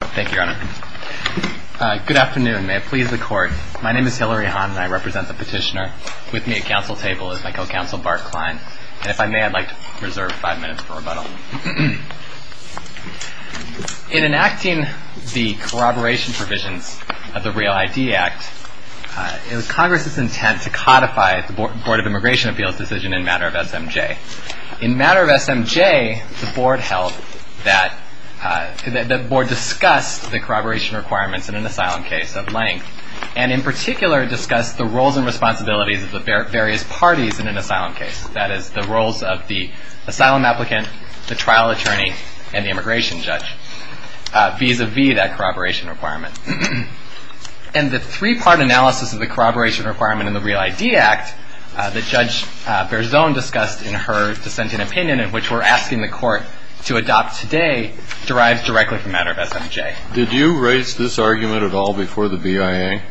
Thank you, Your Honor. Good afternoon. May it please the Court. My name is Hilary Hahn and I represent the petitioner. With me at council table is my co-counsel, Bart Klein. And if I may, I'd like to reserve five minutes for rebuttal. In enacting the corroboration provisions of the REAL ID Act, it was Congress's intent to codify the Board of Immigration Appeals decision in matter of SMJ. In matter of SMJ, the Board discussed the corroboration requirements in an asylum case of length, and in particular discussed the roles and responsibilities of the various parties in an asylum case. That is, the roles of the asylum applicant, the trial attorney, and the immigration judge, vis-à-vis that corroboration requirement. And the three-part analysis of the corroboration requirement in the REAL ID Act that Judge Berzon discussed in her dissenting opinion, in which we're asking the Court to adopt today, derives directly from matter of SMJ. Did you raise this argument at all before the BIA?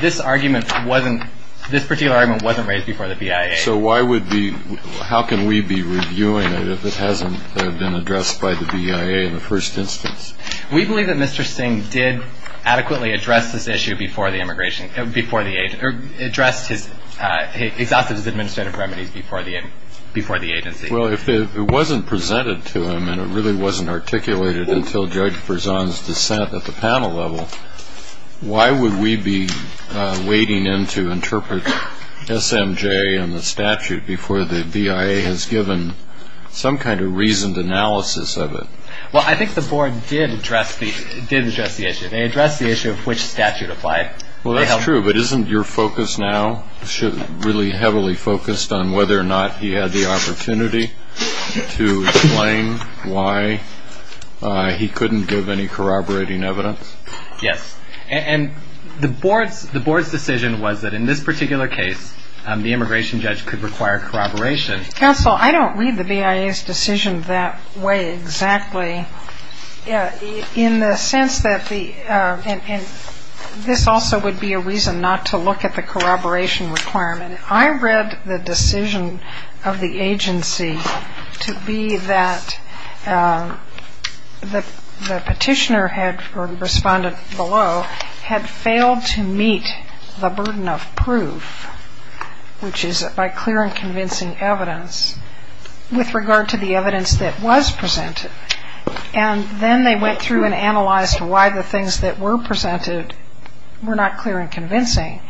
This argument wasn't, this particular argument wasn't raised before the BIA. So why would be, how can we be reviewing it if it hasn't been addressed by the BIA in the first instance? We believe that Mr. Singh did adequately address this issue before the immigration, before the, addressed his, exhausted his administrative remedies before the agency. Well, if it wasn't presented to him and it really wasn't articulated until Judge Berzon's dissent at the panel level, why would we be wading in to interpret SMJ and the statute before the BIA has given some kind of reasoned analysis of it? Well, I think the Board did address the, did address the issue. They addressed the issue of which statute applied. Well, that's true, but isn't your focus now really heavily focused on whether or not he had the opportunity to explain why he couldn't give any corroborating evidence? Yes. And the Board's, the Board's decision was that in this particular case, the immigration judge could require corroboration. Counsel, I don't read the BIA's decision that way exactly. In the sense that the, and this also would be a reason not to look at the corroboration requirement. I read the decision of the agency to be that the petitioner had, or the respondent below, had failed to meet the burden of proof, which is by clear and convincing evidence with regard to the evidence that was presented. And then they went through and analyzed why the things that were presented were not clear and convincing.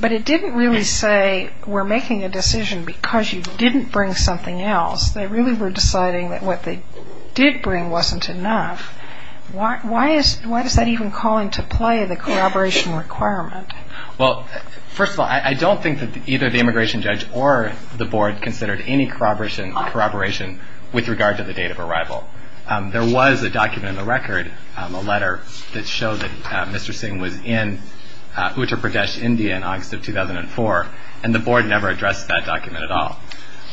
But it didn't really say we're making a decision because you didn't bring something else. They really were deciding that what they did bring wasn't enough. Why is, why does that even call into play the corroboration requirement? Well, first of all, I don't think that either the immigration judge or the Board considered any corroboration with regard to the date of arrival. There was a document in the record, a letter, that showed that Mr. Singh was in Uttar Pradesh, India in August of 2004. And the Board never addressed that document at all.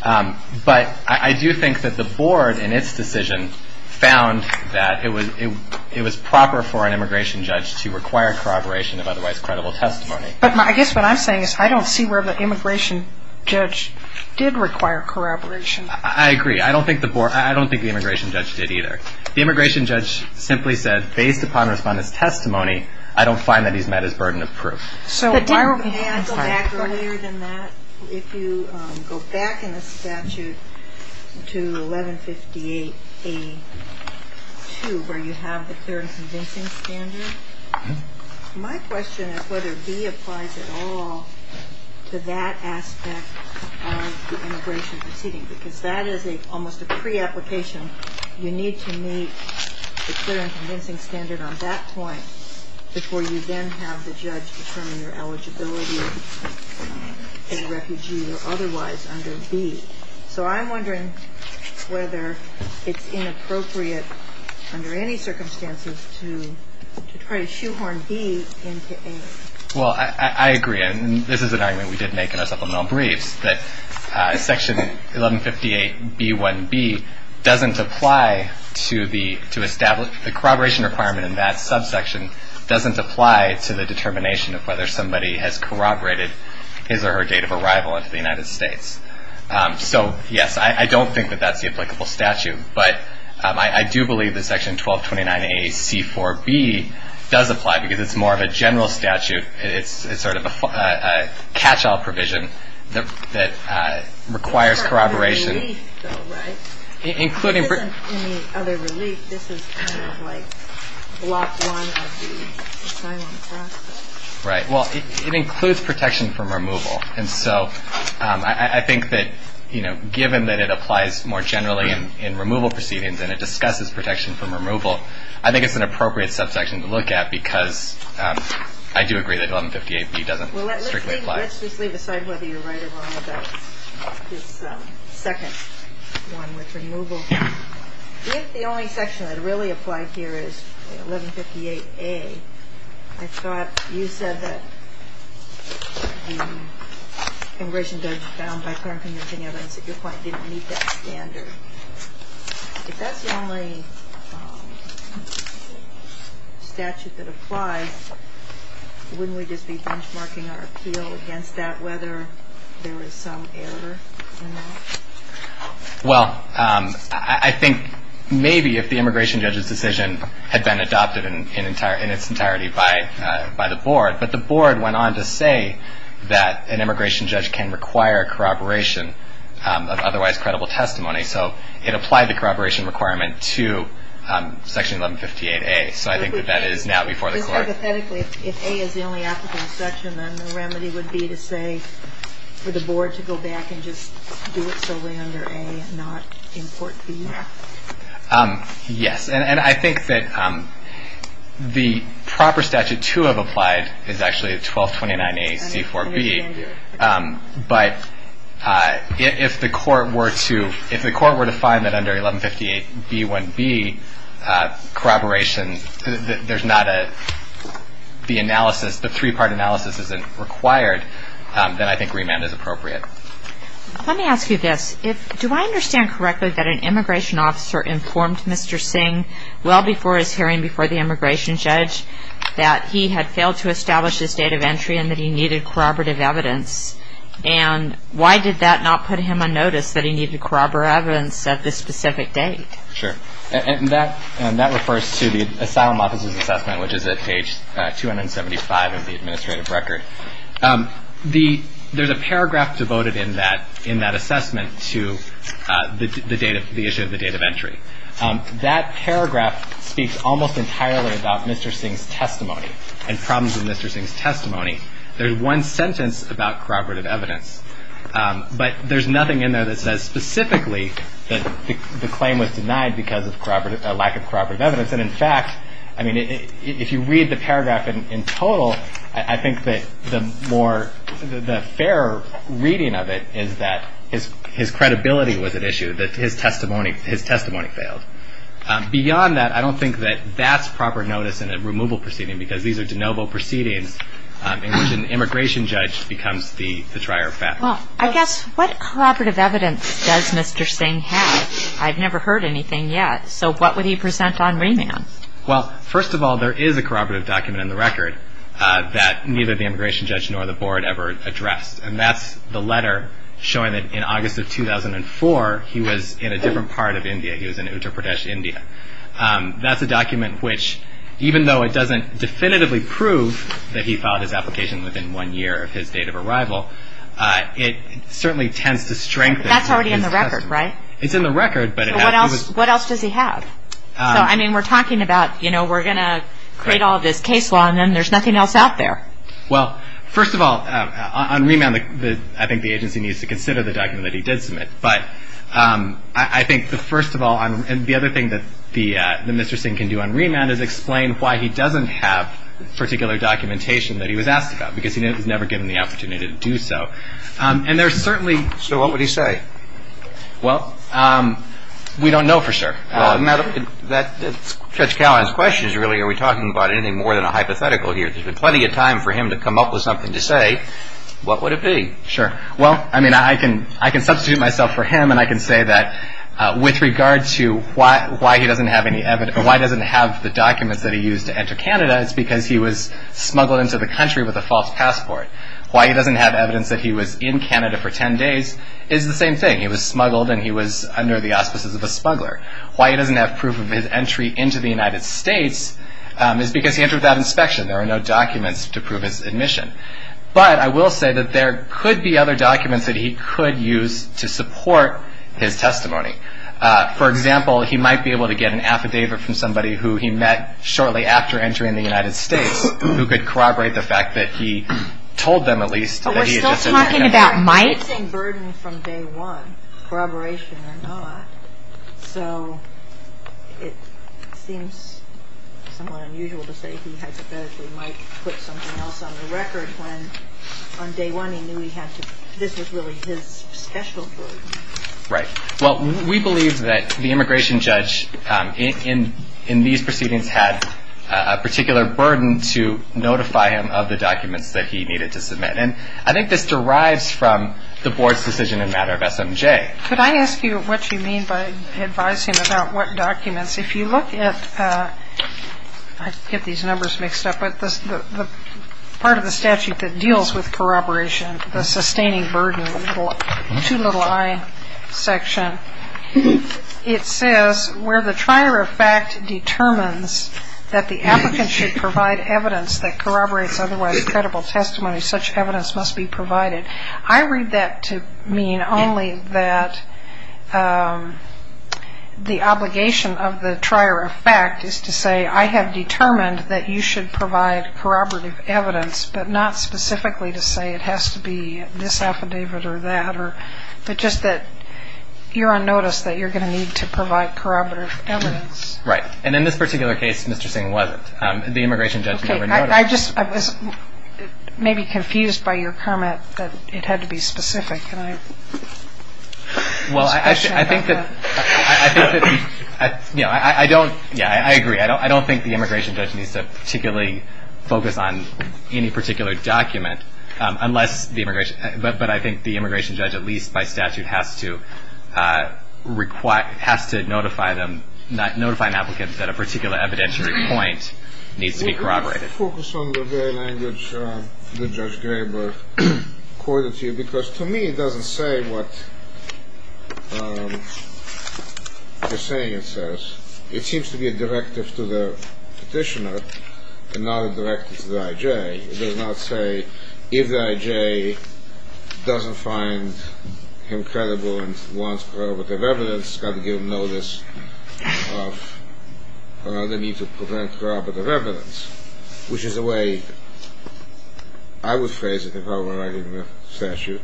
But I do think that the Board, in its decision, found that it was proper for an immigration judge to require corroboration of otherwise credible testimony. But I guess what I'm saying is I don't see where the immigration judge did require corroboration. I agree. I don't think the Board, I don't think the immigration judge did either. The immigration judge simply said, based upon the respondent's testimony, I don't find that he's met his burden of proof. So why don't we go back earlier than that? If you go back in the statute to 1158A.2, where you have the clear and convincing standard, My question is whether B applies at all to that aspect of the immigration proceeding. Because that is almost a pre-application. You need to meet the clear and convincing standard on that point before you then have the judge determine your eligibility as a refugee or otherwise under B. So I'm wondering whether it's inappropriate under any circumstances to try to shoehorn B into A. Well, I agree. And this is an argument we did make in our supplemental briefs, that Section 1158B.1b doesn't apply to the – to establish – the corroboration requirement in that subsection doesn't apply to the determination of whether somebody has corroborated his or her date of arrival into the United States. So, yes, I don't think that that's the applicable statute. But I do believe that Section 1229A.C.4.B. does apply because it's more of a general statute. It's sort of a catch-all provision that requires corroboration. There isn't any other relief, though, right? Including – There isn't any other relief. This is kind of like Block 1 of the asylum process. Right. Well, it includes protection from removal. And so I think that, you know, given that it applies more generally in removal proceedings and it discusses protection from removal, I think it's an appropriate subsection to look at because I do agree that 1158B doesn't strictly apply. Let's just leave aside whether you're right or wrong about this second one with removal. If the only section that really applied here is 1158A, I thought you said that the immigration judge found by current contingency evidence at your point didn't meet that standard. If that's the only statute that applies, wouldn't we just be benchmarking our appeal against that whether there is some error in that? Well, I think maybe if the immigration judge's decision had been adopted in its entirety by the board, but the board went on to say that an immigration judge can require corroboration of otherwise credible testimony. So it applied the corroboration requirement to Section 1158A. So I think that that is now before the court. Hypothetically, if A is the only applicable section, then the remedy would be to say for the board to go back and just do it solely under A and not import B? Yes. And I think that the proper statute to have applied is actually 1229AC4B. But if the court were to find that under 1158B1B corroboration, the three-part analysis isn't required, then I think remand is appropriate. Let me ask you this. Do I understand correctly that an immigration officer informed Mr. Singh well before his hearing before the immigration judge that he had failed to establish his date of entry and that he needed corroborative evidence? And why did that not put him on notice that he needed corroborative evidence at this specific date? Sure. And that refers to the Asylum Officers Assessment, which is at page 275 of the administrative record. There's a paragraph devoted in that assessment to the issue of the date of entry. That paragraph speaks almost entirely about Mr. Singh's testimony and problems with Mr. Singh's testimony. There's one sentence about corroborative evidence, but there's nothing in there that says specifically that the claim was denied because of lack of corroborative evidence. And, in fact, if you read the paragraph in total, I think that the fair reading of it is that his credibility was at issue, that his testimony failed. Beyond that, I don't think that that's proper notice in a removal proceeding, because these are de novo proceedings in which an immigration judge becomes the trier of facts. Well, I guess what corroborative evidence does Mr. Singh have? I've never heard anything yet. So what would he present on remand? Well, first of all, there is a corroborative document in the record that neither the immigration judge nor the board ever addressed. And that's the letter showing that in August of 2004, he was in a different part of India. He was in Uttar Pradesh, India. That's a document which, even though it doesn't definitively prove that he filed his application within one year of his date of arrival, it certainly tends to strengthen his testimony. That's already in the record, right? It's in the record. So what else does he have? So, I mean, we're talking about, you know, we're going to create all this case law, and then there's nothing else out there. Well, first of all, on remand, I think the agency needs to consider the document that he did submit. But I think, first of all, and the other thing that Mr. Singh can do on remand is explain why he doesn't have particular documentation that he was asked about, because he was never given the opportunity to do so. And there's certainly – So what would he say? Well, we don't know for sure. Judge Callahan's question is really, are we talking about anything more than a hypothetical here? There's been plenty of time for him to come up with something to say. What would it be? Sure. Well, I mean, I can substitute myself for him, and I can say that with regard to why he doesn't have any evidence or why he doesn't have the documents that he used to enter Canada, it's because he was smuggled into the country with a false passport. Why he doesn't have evidence that he was in Canada for 10 days is the same thing. He was smuggled, and he was under the auspices of a smuggler. Why he doesn't have proof of his entry into the United States is because he entered without inspection. There are no documents to prove his admission. But I will say that there could be other documents that he could use to support his testimony. For example, he might be able to get an affidavit from somebody who he met shortly after entering the United States who could corroborate the fact that he told them, at least, that he had just entered Canada. But we're still talking about Mike. It's the same burden from day one, corroboration or not. So it seems somewhat unusual to say he hypothetically might put something else on the record when on day one he knew this was really his special burden. Right. Well, we believe that the immigration judge in these proceedings had a particular burden to notify him of the documents that he needed to submit. And I think this derives from the board's decision in the matter of SMJ. Could I ask you what you mean by advising about what documents? If you look at the part of the statute that deals with corroboration, the sustaining burden, the two little I section, it says, where the trier of fact determines that the applicant should provide evidence that corroborates otherwise credible testimony, such evidence must be provided. I read that to mean only that the obligation of the trier of fact is to say, I have determined that you should provide corroborative evidence, but not specifically to say it has to be this affidavit or that, but just that you're on notice that you're going to need to provide corroborative evidence. Right. And in this particular case, Mr. Singh, wasn't. The immigration judge never noticed. I was maybe confused by your comment that it had to be specific. Well, I think that, yeah, I agree. I don't think the immigration judge needs to particularly focus on any particular document, but I think the immigration judge, at least by statute, has to notify an applicant that a particular evidentiary point needs to be corroborated. I would focus on the very language that Judge Graber quoted to you because to me it doesn't say what the saying says. It seems to be a directive to the petitioner and not a directive to the I.J. It does not say if the I.J. doesn't find him credible and wants corroborative evidence, got to give him notice of the need to provide corroborative evidence, which is a way I would phrase it if I were writing the statute.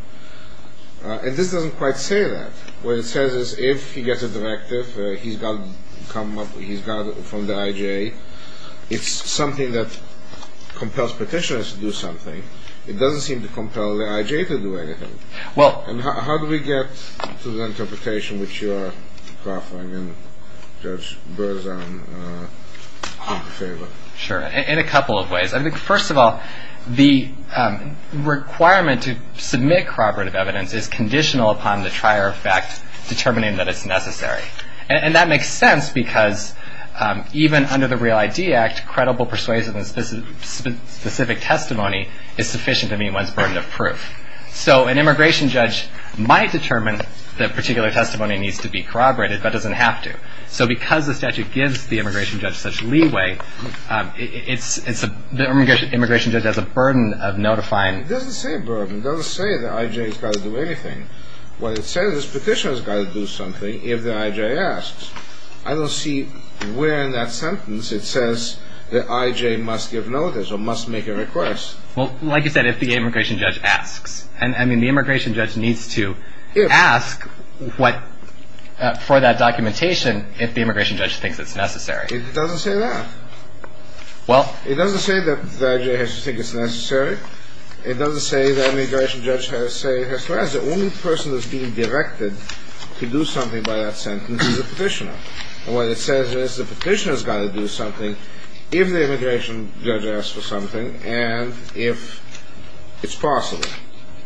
And this doesn't quite say that. What it says is if he gets a directive, he's got to come up, he's got to, from the I.J., it's something that compels petitioners to do something. It doesn't seem to compel the I.J. to do anything. And how do we get to the interpretation which you are offering and Judge Berzan in favor? Sure. In a couple of ways. First of all, the requirement to submit corroborative evidence is conditional upon the trier of fact determining that it's necessary. And that makes sense because even under the Real ID Act, credible persuasive and specific testimony is sufficient to meet one's burden of proof. So an immigration judge might determine that particular testimony needs to be corroborated, but doesn't have to. So because the statute gives the immigration judge such leeway, the immigration judge has a burden of notifying. It doesn't say burden. It doesn't say the I.J. has got to do anything. What it says is petitioners have got to do something if the I.J. asks. I don't see where in that sentence it says the I.J. must give notice or must make a request. Well, like you said, if the immigration judge asks. I mean, the immigration judge needs to ask for that documentation if the immigration judge thinks it's necessary. It doesn't say that. It doesn't say that the I.J. has to think it's necessary. It doesn't say that an immigration judge has to say it has to ask. The only person that's being directed to do something by that sentence is a petitioner. And what it says is the petitioner has got to do something if the immigration judge asks for something and if it's possible.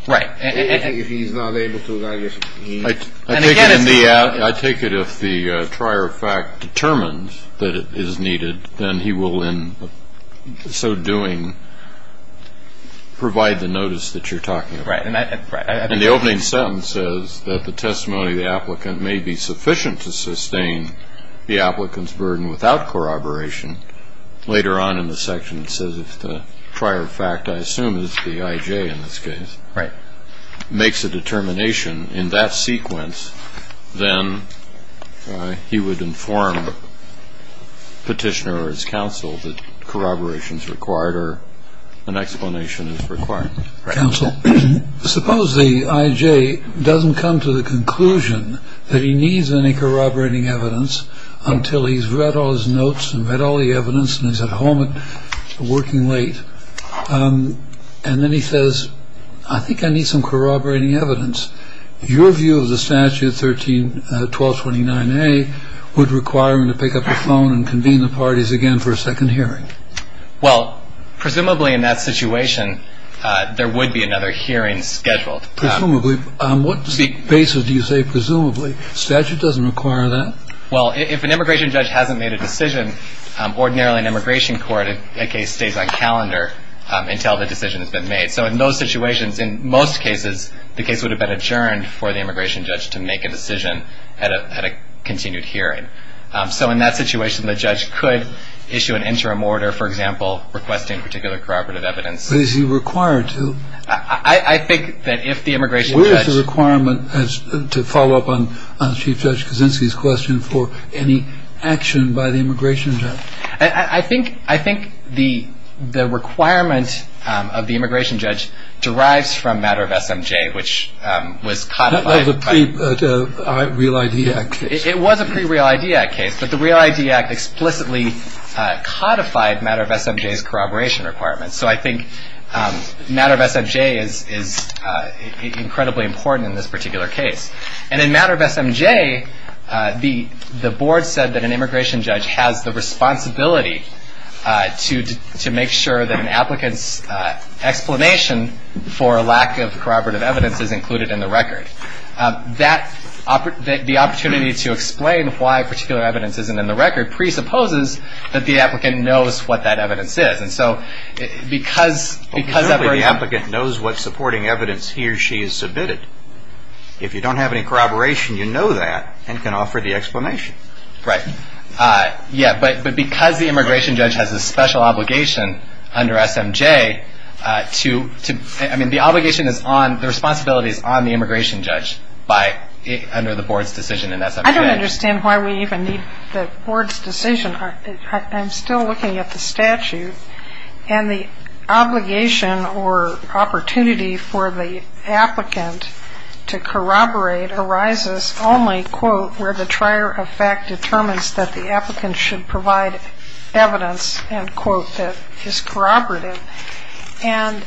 Right. And if he's not able to, then I guess he needs to. I take it if the trier of fact determines that it is needed, then he will in so doing provide the notice that you're talking about. Right. And the opening sentence says that the testimony of the applicant may be sufficient to sustain the applicant's burden without corroboration. Later on in the section, it says if the prior fact I assume is the I.J. in this case. Right. Makes a determination in that sequence, then he would inform the petitioner or his counsel that corroboration is required or an explanation is required. Counsel, suppose the I.J. doesn't come to the conclusion that he needs any corroborating evidence until he's read all his notes and read all the evidence and he's at home working late. And then he says, I think I need some corroborating evidence. Your view of the statute 13-1229A would require him to pick up the phone and convene the parties again for a second hearing. Well, presumably in that situation, there would be another hearing scheduled. Presumably. On what basis do you say presumably? Statute doesn't require that. Well, if an immigration judge hasn't made a decision, ordinarily an immigration court case stays on calendar until the decision has been made. So in those situations, in most cases, the case would have been adjourned for the immigration judge to make a decision at a continued hearing. So in that situation, the judge could issue an interim order, for example, requesting particular corroborative evidence. But is he required to? I think that if the immigration judge. That's a requirement to follow up on Chief Judge Kaczynski's question for any action by the immigration judge. I think the requirement of the immigration judge derives from matter of SMJ, which was codified. That was a pre-Real ID Act case. It was a pre-Real ID Act case, but the Real ID Act explicitly codified matter of SMJ's corroboration requirements. So I think matter of SMJ is incredibly important in this particular case. And in matter of SMJ, the board said that an immigration judge has the responsibility to make sure that an applicant's explanation for a lack of corroborative evidence is included in the record. The opportunity to explain why particular evidence isn't in the record presupposes that the applicant knows what that evidence is. And so because every applicant knows what supporting evidence he or she has submitted, if you don't have any corroboration, you know that and can offer the explanation. Right. Yeah, but because the immigration judge has a special obligation under SMJ to, I mean, the obligation is on, the responsibility is on the immigration judge under the board's decision in SMJ. I don't understand why we even need the board's decision. I'm still looking at the statute. And the obligation or opportunity for the applicant to corroborate arises only, quote, where the trier of fact determines that the applicant should provide evidence, end quote, that is corroborative. And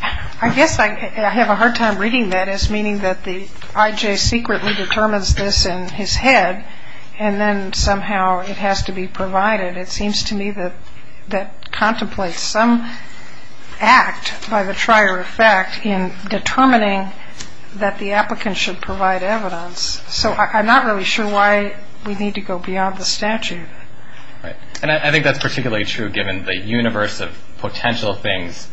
I guess I have a hard time reading that as meaning that the I.J. secretly determines this in his head, and then somehow it has to be provided. It seems to me that contemplates some act by the trier of fact in determining that the applicant should provide evidence. So I'm not really sure why we need to go beyond the statute. Right. And I think that's particularly true given the universe of potential things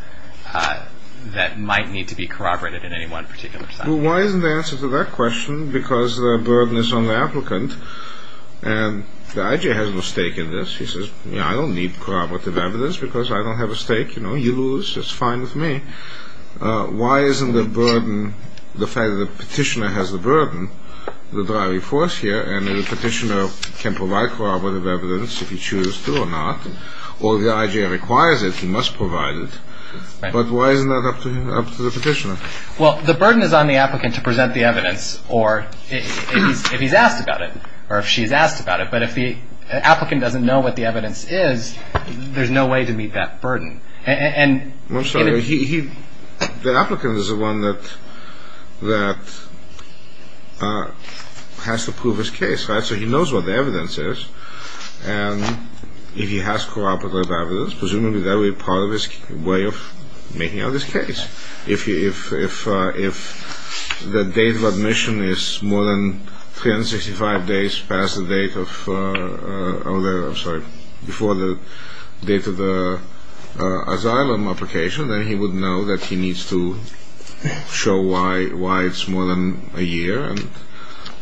that might need to be corroborated in any one particular time. Well, why isn't the answer to that question? Because the burden is on the applicant. And the I.J. has no stake in this. He says, you know, I don't need corroborative evidence because I don't have a stake. You know, you lose. It's fine with me. Why isn't the burden, the fact that the petitioner has the burden, the driving force here, and the petitioner can provide corroborative evidence if he chooses to or not, or the I.J. requires it, he must provide it. But why isn't that up to the petitioner? Well, the burden is on the applicant to present the evidence or if he's asked about it or if she's asked about it. But if the applicant doesn't know what the evidence is, there's no way to meet that burden. I'm sorry. The applicant is the one that has to prove his case. So he knows what the evidence is. And if he has corroborative evidence, presumably that would be part of his way of making out this case. If the date of admission is more than 365 days past the date of the asylum application, then he would know that he needs to show why it's more than a year. And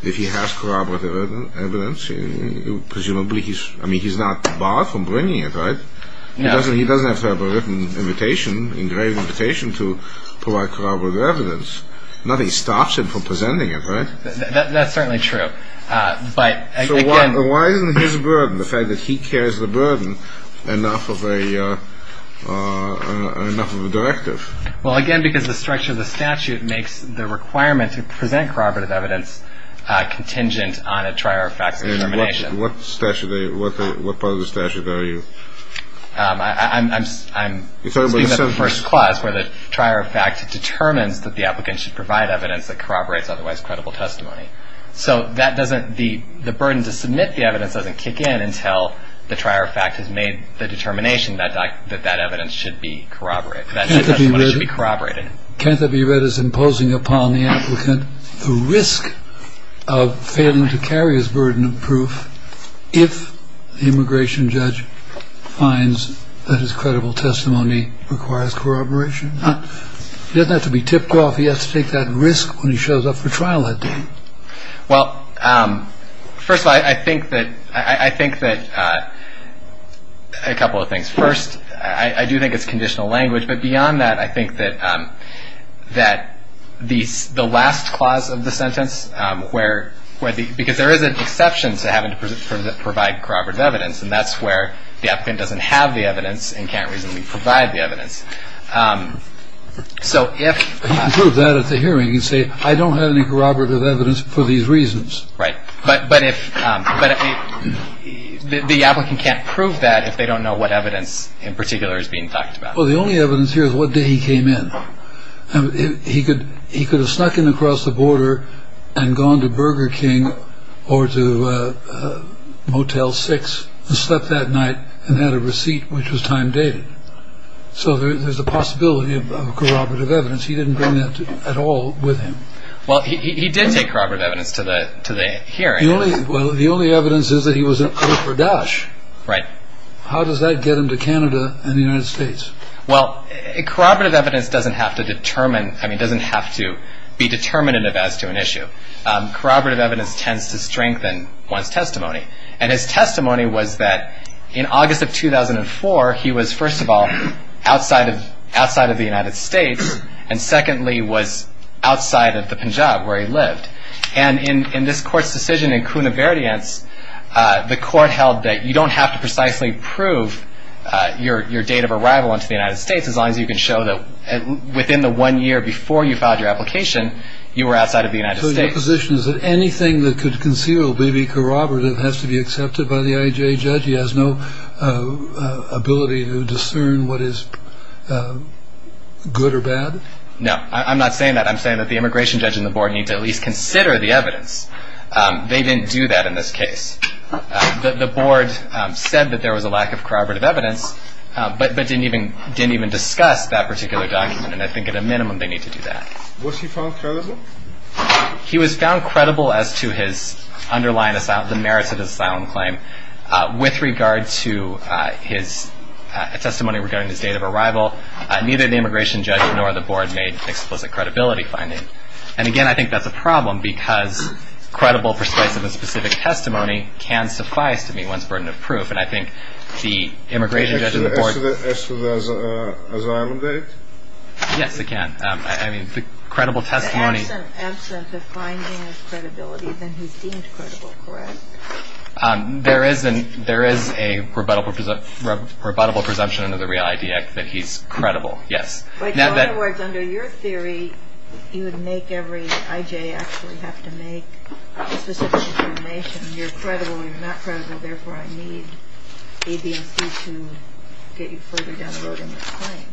if he has corroborative evidence, presumably he's not barred from bringing it, right? He doesn't have to have a written invitation, engraved invitation, to provide corroborative evidence. Nothing stops him from presenting it, right? That's certainly true. So why isn't his burden, the fact that he carries the burden, enough of a directive? Well, again, because the structure of the statute makes the requirement to present corroborative evidence contingent on a triary fact determination. What part of the statute are you? I'm speaking of the first clause, where the triary fact determines that the applicant should provide evidence that corroborates otherwise credible testimony. So the burden to submit the evidence doesn't kick in until the triary fact has made the determination that that evidence should be corroborated. Can't that be read as imposing upon the applicant the risk of failing to carry his burden of proof if the immigration judge finds that his credible testimony requires corroboration? He doesn't have to be tipped off. He has to take that risk when he shows up for trial that day. Well, first of all, I think that a couple of things. First, I do think it's conditional language. But beyond that, I think that the last clause of the sentence, because there is an exception to having to provide corroborative evidence, and that's where the applicant doesn't have the evidence and can't reasonably provide the evidence. He can prove that at the hearing. He can say, I don't have any corroborative evidence for these reasons. Right. But the applicant can't prove that if they don't know what evidence in particular is being talked about. Well, the only evidence here is what day he came in. He could have snuck in across the border and gone to Burger King or to Motel 6 and slept that night and had a receipt which was time dated. So there's a possibility of corroborative evidence. He didn't bring that at all with him. Well, he did take corroborative evidence to the hearing. Well, the only evidence is that he was in Upper Dash. Right. How does that get him to Canada and the United States? Well, corroborative evidence doesn't have to be determinative as to an issue. Corroborative evidence tends to strengthen one's testimony. And his testimony was that in August of 2004, he was, first of all, outside of the United States, and secondly, was outside of the Punjab where he lived. And in this Court's decision in Cunaverdience, the Court held that you don't have to precisely prove your date of arrival into the United States as long as you can show that within the one year before you filed your application, you were outside of the United States. So your position is that anything that could conceal or be corroborative has to be accepted by the IJA judge? He has no ability to discern what is good or bad? No, I'm not saying that. I'm saying that the immigration judge and the board need to at least consider the evidence. They didn't do that in this case. The board said that there was a lack of corroborative evidence, but didn't even discuss that particular document. And I think at a minimum they need to do that. Was he found credible? He was found credible as to his underlying, the merits of his asylum claim. With regard to his testimony regarding his date of arrival, neither the immigration judge nor the board made explicit credibility findings. And, again, I think that's a problem because credible, persuasive, and specific testimony can suffice to meet one's burden of proof. And I think the immigration judge and the board – Can they ask for the asylum date? Yes, they can. I mean, the credible testimony – The absence of finding of credibility, then he's deemed credible, correct? There is a rebuttable presumption under the REAL-ID Act that he's credible, yes. But, in other words, under your theory, you would make every I.J. actually have to make specific information. You're credible, you're not credible, therefore I need A, B, and C to get you further down the road in this claim.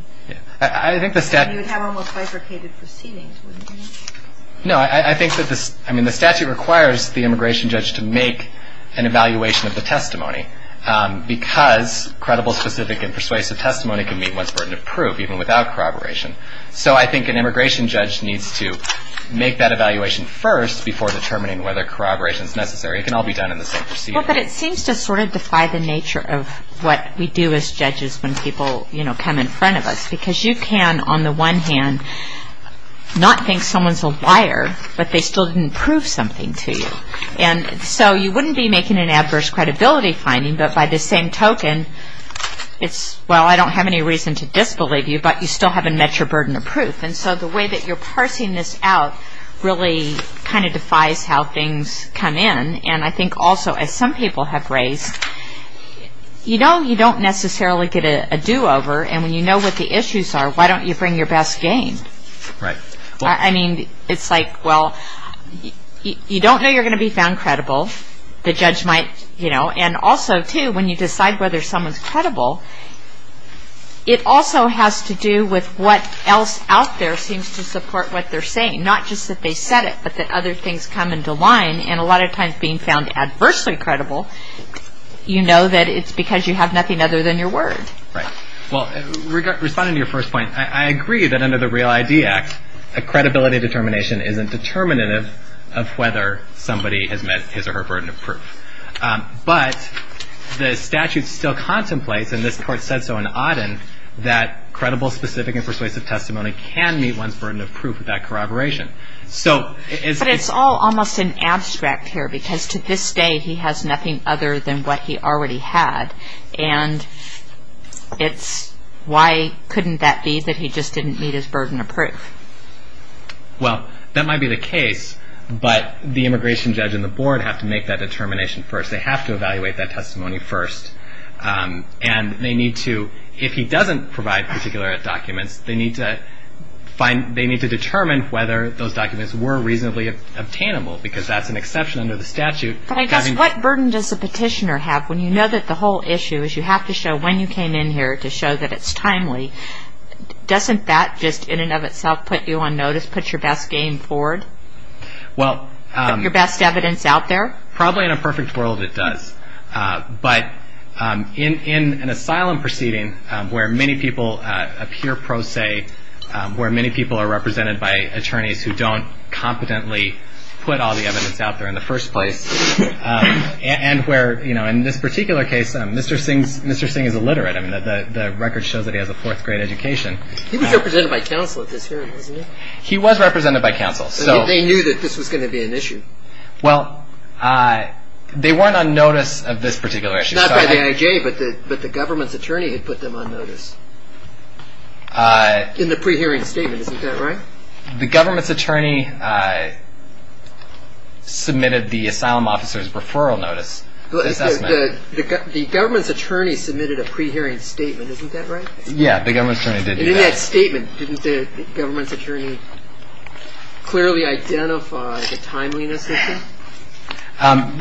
I think the statute – And you would have almost bifurcated proceedings, wouldn't you? No, I think that the statute requires the immigration judge to make an evaluation of the testimony because credible, specific, and persuasive testimony can meet one's burden of proof, even without corroboration. So I think an immigration judge needs to make that evaluation first before determining whether corroboration is necessary. It can all be done in the same procedure. Well, but it seems to sort of defy the nature of what we do as judges when people come in front of us because you can, on the one hand, not think someone's a liar, but they still didn't prove something to you. And so you wouldn't be making an adverse credibility finding, but by the same token, it's, well, I don't have any reason to disbelieve you, but you still haven't met your burden of proof. And so the way that you're parsing this out really kind of defies how things come in. And I think also, as some people have raised, you don't necessarily get a do-over. And when you know what the issues are, why don't you bring your best game? Right. I mean, it's like, well, you don't know you're going to be found credible. The judge might, you know, and also, too, when you decide whether someone's credible, it also has to do with what else out there seems to support what they're saying, not just that they said it, but that other things come into line. And a lot of times, being found adversely credible, you know that it's because you have nothing other than your word. Right. Well, responding to your first point, I agree that under the REAL ID Act, a credibility determination isn't determinative of whether somebody has met his or her burden of proof. But the statute still contemplates, and this court said so in Auden, that credible, specific, and persuasive testimony can meet one's burden of proof with that corroboration. But it's all almost in abstract here, because to this day, he has nothing other than what he already had. And why couldn't that be that he just didn't meet his burden of proof? Well, that might be the case, but the immigration judge and the board have to make that determination first. They have to evaluate that testimony first. And they need to, if he doesn't provide particular documents, they need to determine whether those documents were reasonably obtainable, because that's an exception under the statute. But I guess what burden does the petitioner have when you know that the whole issue is you have to show when you came in here to show that it's timely? Doesn't that just, in and of itself, put you on notice, put your best game forward? Put your best evidence out there? Probably in a perfect world, it does. But in an asylum proceeding where many people appear pro se, where many people are represented by attorneys who don't competently put all the evidence out there in the first place, and where, in this particular case, Mr. Singh is illiterate. I mean, the record shows that he has a fourth-grade education. He was represented by counsel at this hearing, wasn't he? He was represented by counsel. They knew that this was going to be an issue. Well, they weren't on notice of this particular issue. Not by the IAJ, but the government's attorney had put them on notice. In the pre-hearing statement, isn't that right? The government's attorney submitted the asylum officer's referral notice assessment. The government's attorney submitted a pre-hearing statement. Isn't that right? Yeah, the government's attorney did do that. And in that statement, didn't the government's attorney clearly identify the timeliness issue?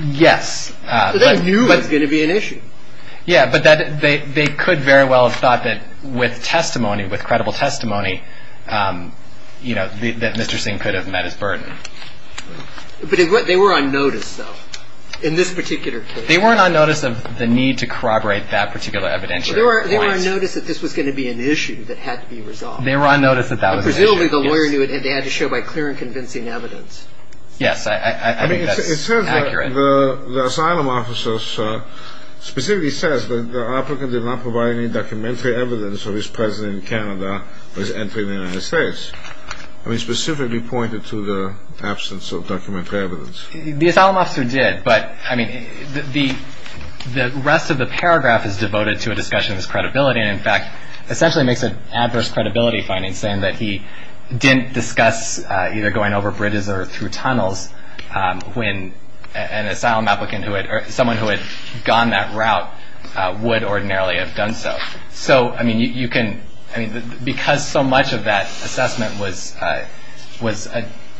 Yes. So they knew it was going to be an issue. Yeah, but they could very well have thought that with testimony, with credible testimony, that Mr. Singh could have met his burden. But they were on notice, though, in this particular case. They weren't on notice of the need to corroborate that particular evidentiary. They were on notice that this was going to be an issue that had to be resolved. They were on notice that that was an issue. Presumably, the lawyer knew it had to end to show by clear and convincing evidence. Yes, I think that's accurate. It says that the asylum officer specifically says that the applicant did not provide any documentary evidence of his presence in Canada when he was entering the United States. I mean, specifically pointed to the absence of documentary evidence. The asylum officer did. But, I mean, the rest of the paragraph is devoted to a discussion of his credibility, and, in fact, essentially makes an adverse credibility finding, saying that he didn't discuss either going over bridges or through tunnels when an asylum applicant or someone who had gone that route would ordinarily have done so. So, I mean, because so much of that assessment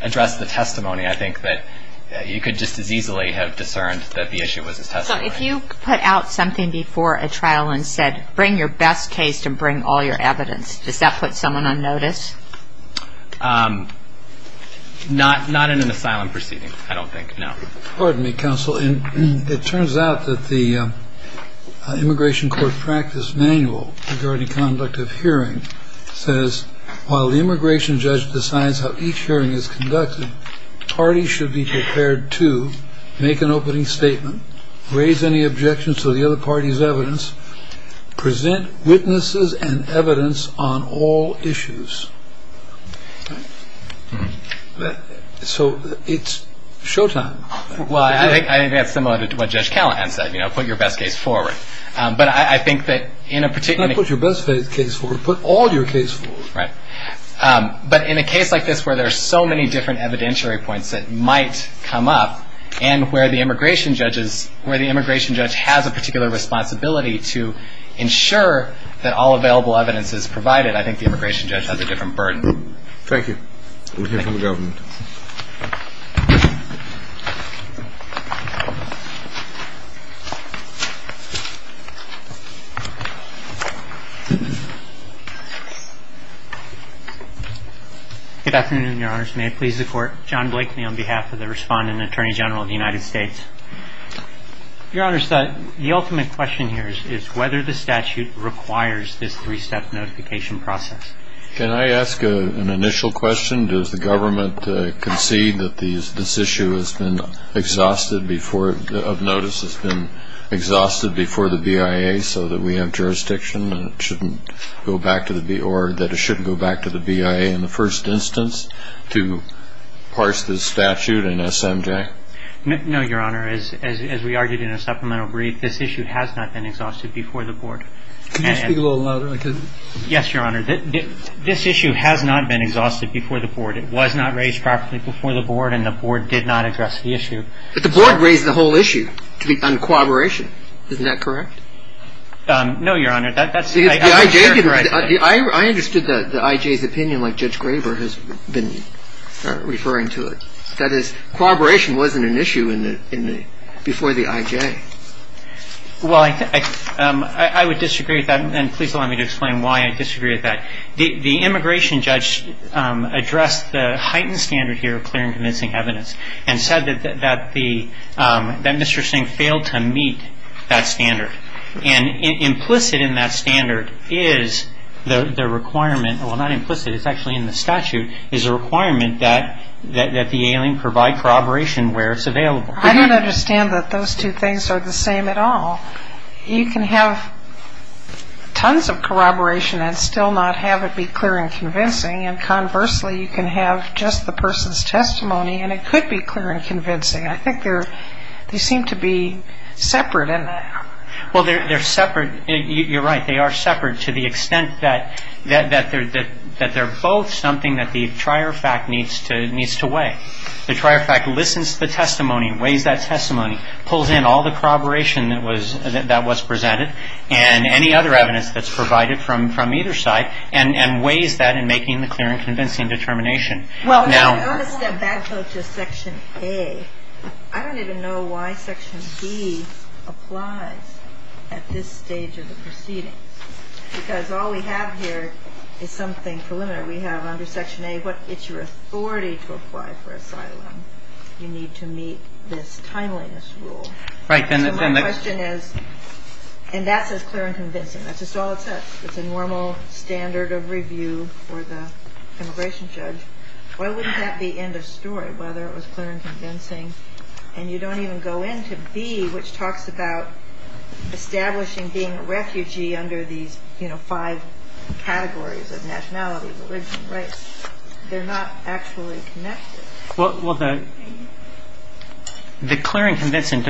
addressed the testimony, I think that you could just as easily have discerned that the issue was his testimony. So, if you put out something before a trial and said, bring your best case and bring all your evidence, does that put someone on notice? Not in an asylum proceeding, I don't think, no. Pardon me, counsel. It turns out that the immigration court practice manual regarding conduct of hearing says, while the immigration judge decides how each hearing is conducted, parties should be prepared to make an opening statement, raise any objections to the other party's evidence, present witnesses and evidence on all issues. So it's showtime. Well, I think that's similar to what Judge Callahan said, you know, put your best case forward. But I think that in a particular... Put your best case forward. Put all your case forward. Right. But in a case like this where there's so many different evidentiary points that might come up and where the immigration judge has a particular responsibility to ensure that all available evidence is provided, I think the immigration judge has a different burden. Thank you. We'll hear from the government. Good afternoon, Your Honors. May it please the Court. John Blakely on behalf of the Respondent and Attorney General of the United States. Your Honors, the ultimate question here is whether the statute requires this three-step notification process. Can I ask an initial question? Does the government concede that this issue of notice has been exhausted before the BIA so that we have jurisdiction and it shouldn't go back to the BIA in the first instance to parse this statute in SMJ? No, Your Honor. As we argued in a supplemental brief, this issue has not been exhausted before the Board. Can you speak a little louder? Yes, Your Honor. This issue has not been exhausted before the Board. It was not raised properly before the Board, and the Board did not address the issue. But the Board raised the whole issue on cooperation. Isn't that correct? No, Your Honor. That's not correct. I understood the IJ's opinion like Judge Graber has been referring to it. That is, cooperation wasn't an issue before the IJ. Well, I would disagree with that, and please allow me to explain why I disagree with that. The immigration judge addressed the heightened standard here of clear and convincing evidence and said that Mr. Singh failed to meet that standard. And implicit in that standard is the requirement, well, not implicit, it's actually in the statute, is a requirement that the alien provide corroboration where it's available. I don't understand that those two things are the same at all. You can have tons of corroboration and still not have it be clear and convincing, and conversely, you can have just the person's testimony and it could be clear and convincing. I think they seem to be separate in that. Well, they're separate. You're right. They are separate to the extent that they're both something that the trier fact needs to weigh. The trier fact listens to the testimony, weighs that testimony, pulls in all the corroboration that was presented and any other evidence that's provided from either side and weighs that in making the clear and convincing determination. I want to step back though to Section A. I don't even know why Section B applies at this stage of the proceedings because all we have here is something preliminary. We have under Section A, it's your authority to apply for asylum. You need to meet this timeliness rule. Right. So my question is, and that says clear and convincing, that's just all it says. It's a normal standard of review for the immigration judge. Why wouldn't that be end of story, whether it was clear and convincing? And you don't even go into B, which talks about establishing being a refugee under these five categories of nationality, religion, race. They're not actually connected. Well, the clear and convincing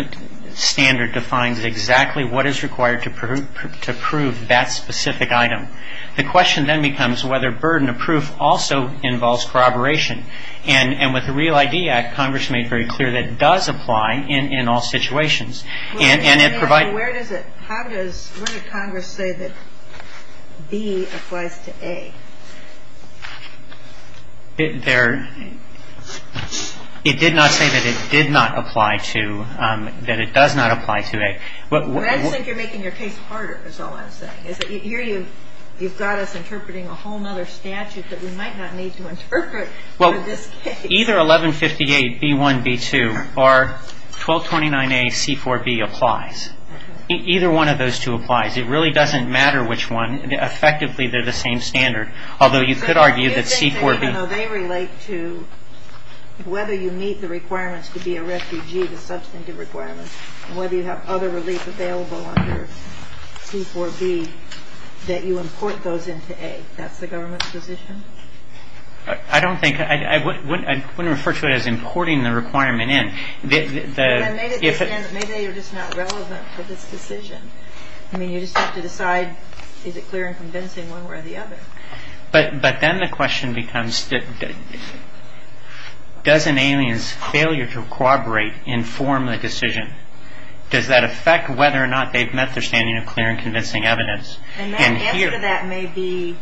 standard defines exactly what is required to prove that specific item. The question then becomes whether burden of proof also involves corroboration. And with the REAL ID Act, Congress made very clear that it does apply in all situations. And it provides Where does it, how does, where did Congress say that B applies to A? It did not say that it did not apply to, that it does not apply to A. I just think you're making your case harder, is all I'm saying. Here you've got us interpreting a whole other statute that we might not need to interpret for this case. Well, either 1158B1B2 or 1229AC4B applies. Either one of those two applies. It really doesn't matter which one. Effectively they're the same standard. Although you could argue that C4B They relate to whether you meet the requirements to be a refugee, the substantive requirements, whether you have other relief available under C4B, that you import those into A. That's the government's position? I don't think, I wouldn't refer to it as importing the requirement in. Maybe you're just not relevant for this decision. I mean, you just have to decide, is it clear and convincing one way or the other. But then the question becomes, does an alien's failure to corroborate inform the decision? Does that affect whether or not they've met their standing of clear and convincing evidence? And that answer to that may be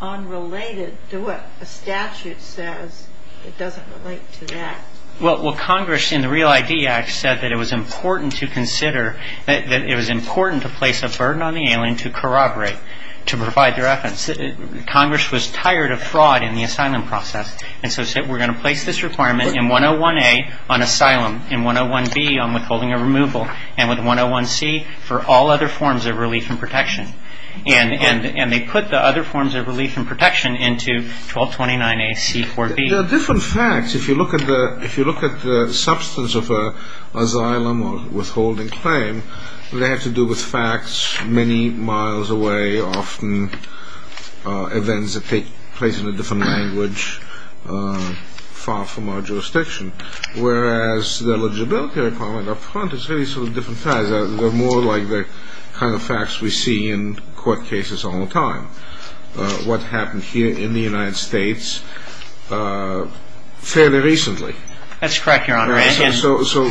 unrelated to what a statute says. It doesn't relate to that. Well, Congress in the Real ID Act said that it was important to consider, that it was important to place a burden on the alien to corroborate, to provide their evidence. Congress was tired of fraud in the asylum process. And so said, we're going to place this requirement in 101A on asylum, in 101B on withholding of removal, and with 101C for all other forms of relief and protection. And they put the other forms of relief and protection into 1229AC4B. There are different facts. If you look at the substance of an asylum or withholding claim, they have to do with facts many miles away, often events that take place in a different language far from our jurisdiction. Whereas the eligibility requirement up front is really sort of different. They're more like the kind of facts we see in court cases all the time. I have a question. I'm wondering if you could elaborate on what happened here in the United States fairly recently. That's correct, Your Honor. So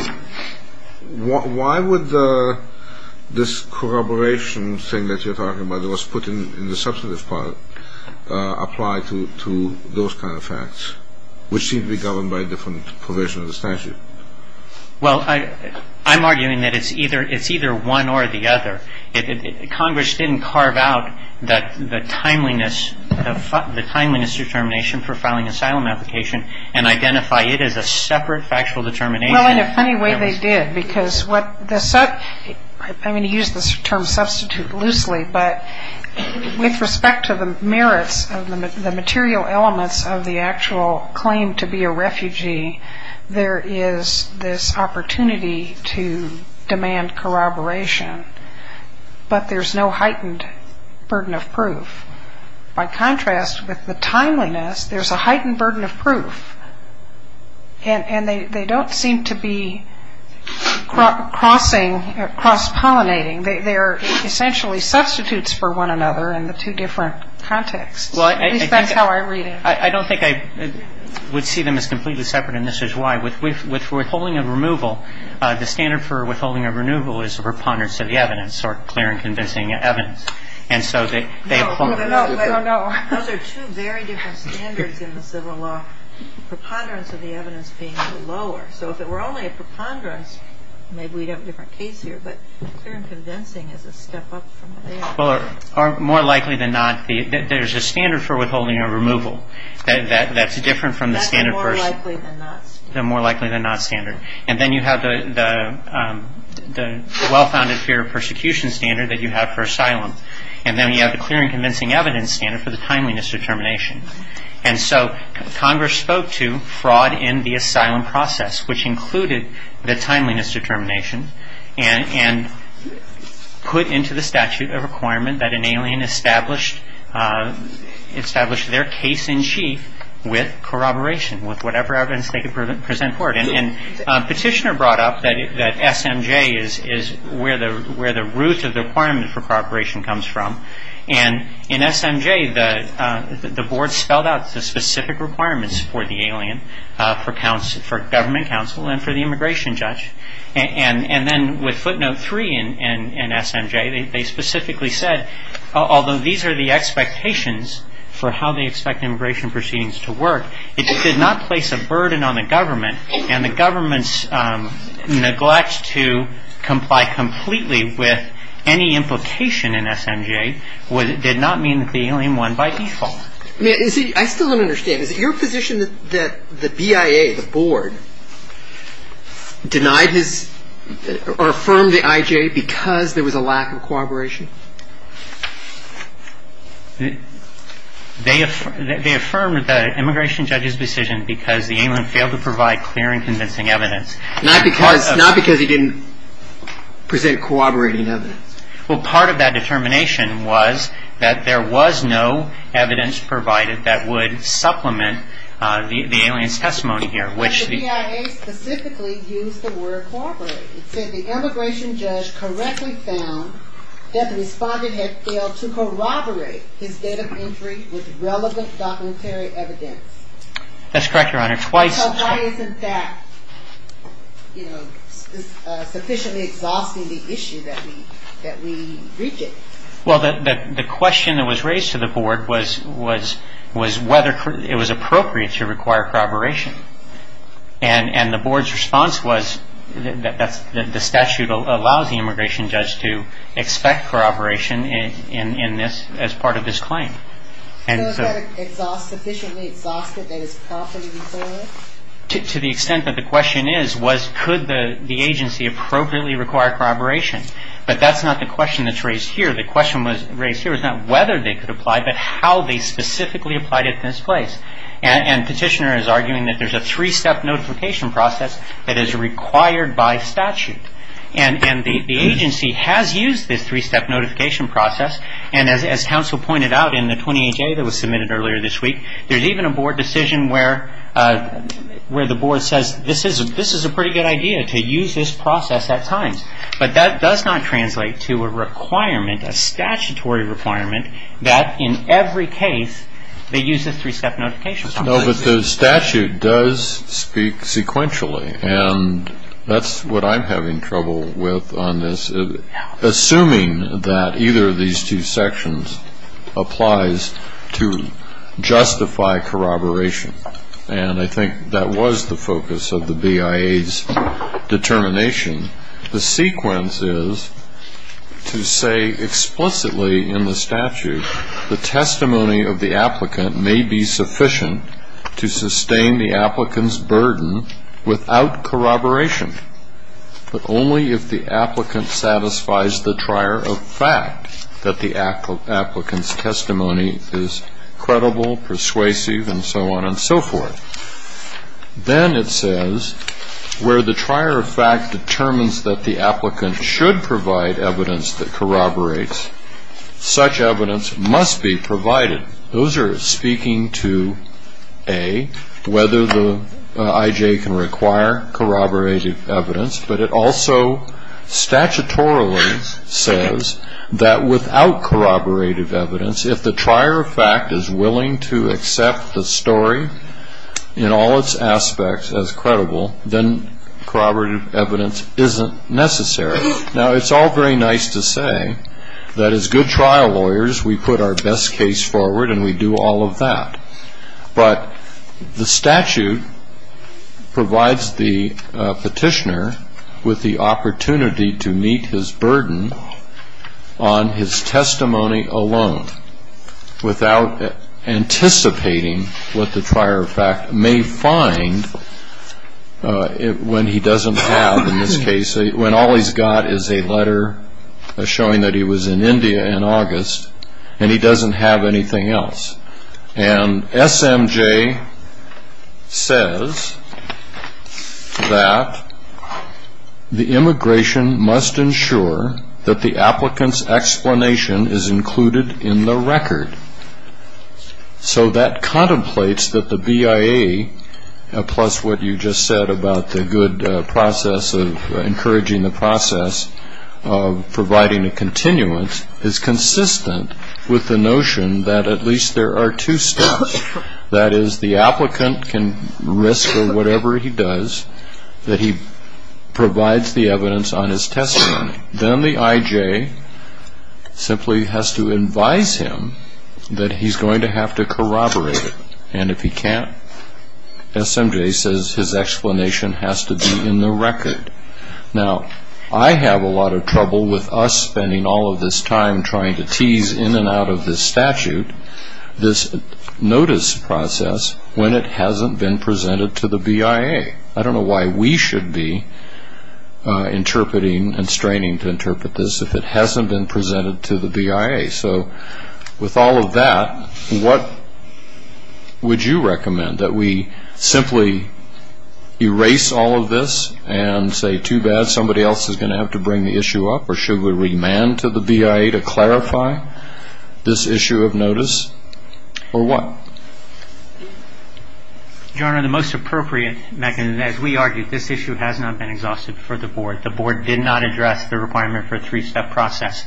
why would this corroboration thing that you're talking about, that was put in the substantive part, apply to those kind of facts, Well, I'm arguing that it's either one or the other. Congress didn't carve out the timeliness determination for filing an asylum application and identify it as a separate factual determination. Well, in a funny way, they did. I'm going to use this term substitute loosely, but with respect to the merits of the material elements of the actual claim to be a refugee, there is this opportunity to demand corroboration. But there's no heightened burden of proof. By contrast, with the timeliness, there's a heightened burden of proof. And they don't seem to be crossing, cross-pollinating. They are essentially substitutes for one another in the two different contexts. At least that's how I read it. I don't think I would see them as completely separate, and this is why. With withholding of removal, the standard for withholding of removal is a preponderance of the evidence or clear and convincing evidence. And so they apply. Those are two very different standards in the civil law, preponderance of the evidence being lower. So if it were only a preponderance, maybe we'd have a different case here. But clear and convincing is a step up from there. Well, more likely than not, there's a standard for withholding of removal. That's different from the standard for the more likely than not standard. And then you have the well-founded fear of persecution standard that you have for asylum. And then you have the clear and convincing evidence standard for the timeliness determination. And so Congress spoke to fraud in the asylum process, which included the timeliness determination and put into the statute a requirement that an alien establish their case in chief with corroboration, with whatever evidence they could present for it. And Petitioner brought up that SMJ is where the root of the requirement for corroboration comes from. And in SMJ, the board spelled out the specific requirements for the alien for government counsel and for the immigration judge. And then with footnote three in SMJ, they specifically said, although these are the expectations for how they expect immigration proceedings to work, it did not place a burden on the government. And the government's neglect to comply completely with any implication in SMJ did not mean that the alien won by default. I still don't understand. Is it your position that the BIA, the board, denied his or affirmed the IJ because there was a lack of corroboration? They affirmed the immigration judge's decision because the alien failed to provide clear and convincing evidence. Not because he didn't present corroborating evidence. Well, part of that determination was that there was no evidence provided that would supplement the alien's testimony here. But the BIA specifically used the word corroborate. It said the immigration judge correctly found that the respondent had failed to corroborate his date of entry with relevant documentary evidence. That's correct, Your Honor. So why isn't that sufficiently exhausting the issue that we reach it? Well, the question that was raised to the board was whether it was appropriate to require corroboration. And the board's response was that the statute allows the immigration judge to expect corroboration as part of this claim. So is that sufficiently exhaustive that it's properly required? To the extent that the question is, was could the agency appropriately require corroboration? But that's not the question that's raised here. The question raised here is not whether they could apply, but how they specifically applied at this place. And Petitioner is arguing that there's a three-step notification process that is required by statute. And the agency has used this three-step notification process. And as counsel pointed out in the 20HA that was submitted earlier this week, there's even a board decision where the board says this is a pretty good idea to use this process at times. But that does not translate to a requirement, a statutory requirement, that in every case they use this three-step notification process. No, but the statute does speak sequentially. And that's what I'm having trouble with on this. Assuming that either of these two sections applies to justify corroboration, and I think that was the focus of the BIA's determination, the sequence is to say explicitly in the statute the testimony of the applicant may be sufficient to sustain the applicant's burden without corroboration, but only if the applicant satisfies the trier of fact that the applicant's testimony is credible, persuasive, and so on and so forth. Then it says where the trier of fact determines that the applicant should provide evidence that corroborates, such evidence must be provided. Those are speaking to, A, whether the IJ can require corroborated evidence, but it also statutorily says that without corroborated evidence, if the trier of fact is willing to accept the story in all its aspects as credible, then corroborated evidence isn't necessary. Now, it's all very nice to say that as good trial lawyers we put our best case forward and we do all of that. But the statute provides the petitioner with the opportunity to meet his burden on his testimony alone without anticipating what the trier of fact may find when he doesn't have, in this case, when all he's got is a letter showing that he was in India in August and he doesn't have anything else. And SMJ says that the immigration must ensure that the applicant's explanation is included in the record. So that contemplates that the BIA, plus what you just said about the good process of encouraging the process of providing a continuance, is consistent with the notion that at least there are two steps. That is, the applicant can risk for whatever he does that he provides the evidence on his testimony. Then the IJ simply has to advise him that he's going to have to corroborate it. And if he can't, SMJ says his explanation has to be in the record. Now, I have a lot of trouble with us spending all of this time trying to tease in and out of this statute this notice process when it hasn't been presented to the BIA. I don't know why we should be interpreting and straining to interpret this if it hasn't been presented to the BIA. So with all of that, what would you recommend, that we simply erase all of this and say, too bad, somebody else is going to have to bring the issue up, or should we remand to the BIA to clarify this issue of notice, or what? Your Honor, the most appropriate mechanism, as we argued, this issue has not been exhausted for the Board. The Board did not address the requirement for a three-step process.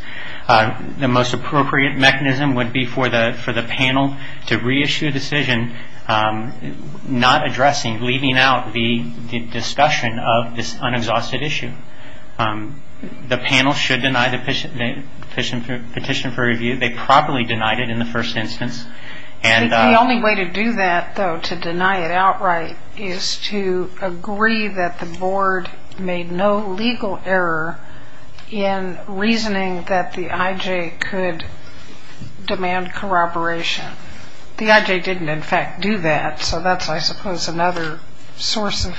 The most appropriate mechanism would be for the panel to reissue a decision not addressing, leaving out the discussion of this unexhausted issue. The panel should deny the petition for review. They properly denied it in the first instance. The only way to do that, though, to deny it outright, is to agree that the Board made no legal error in reasoning that the IJ could demand corroboration. The IJ didn't, in fact, do that, so that's, I suppose, another source of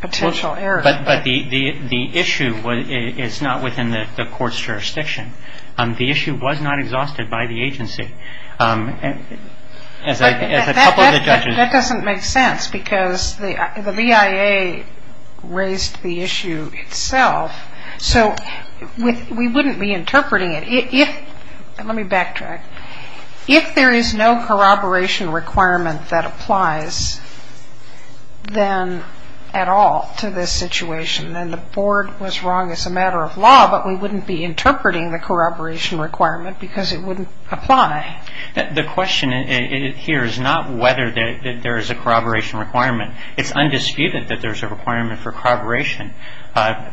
potential error. But the issue is not within the court's jurisdiction. The issue was not exhausted by the agency. As a couple of the judges— But that doesn't make sense because the BIA raised the issue itself, so we wouldn't be interpreting it. Let me backtrack. If there is no corroboration requirement that applies then at all to this situation, then the Board was wrong as a matter of law, but we wouldn't be interpreting the corroboration requirement because it wouldn't apply. The question here is not whether there is a corroboration requirement. It's undisputed that there's a requirement for corroboration.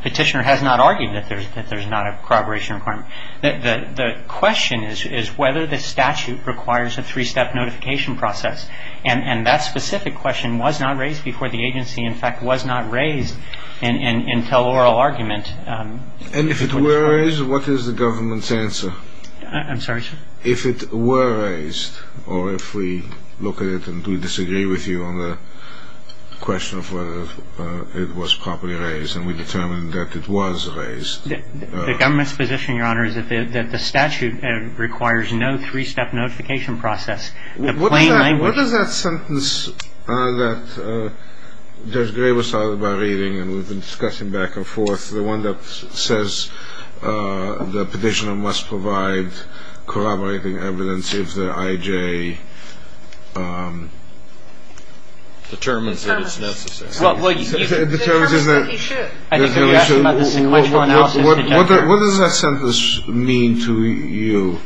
Petitioner has not argued that there's not a corroboration requirement. The question is whether the statute requires a three-step notification process, and that specific question was not raised before the agency, in fact, was not raised until oral argument. And if it were raised, what is the government's answer? I'm sorry, sir? If it were raised, or if we look at it and we disagree with you on the question of whether it was properly raised and we determine that it was raised. The government's position, Your Honor, is that the statute requires no three-step notification process. What does that sentence that Judge Gray was talking about reading and we've been discussing back and forth, the one that says the petitioner must provide corroborating evidence if the I.J. determines that it's necessary. It determines that he should. What does that sentence mean to you?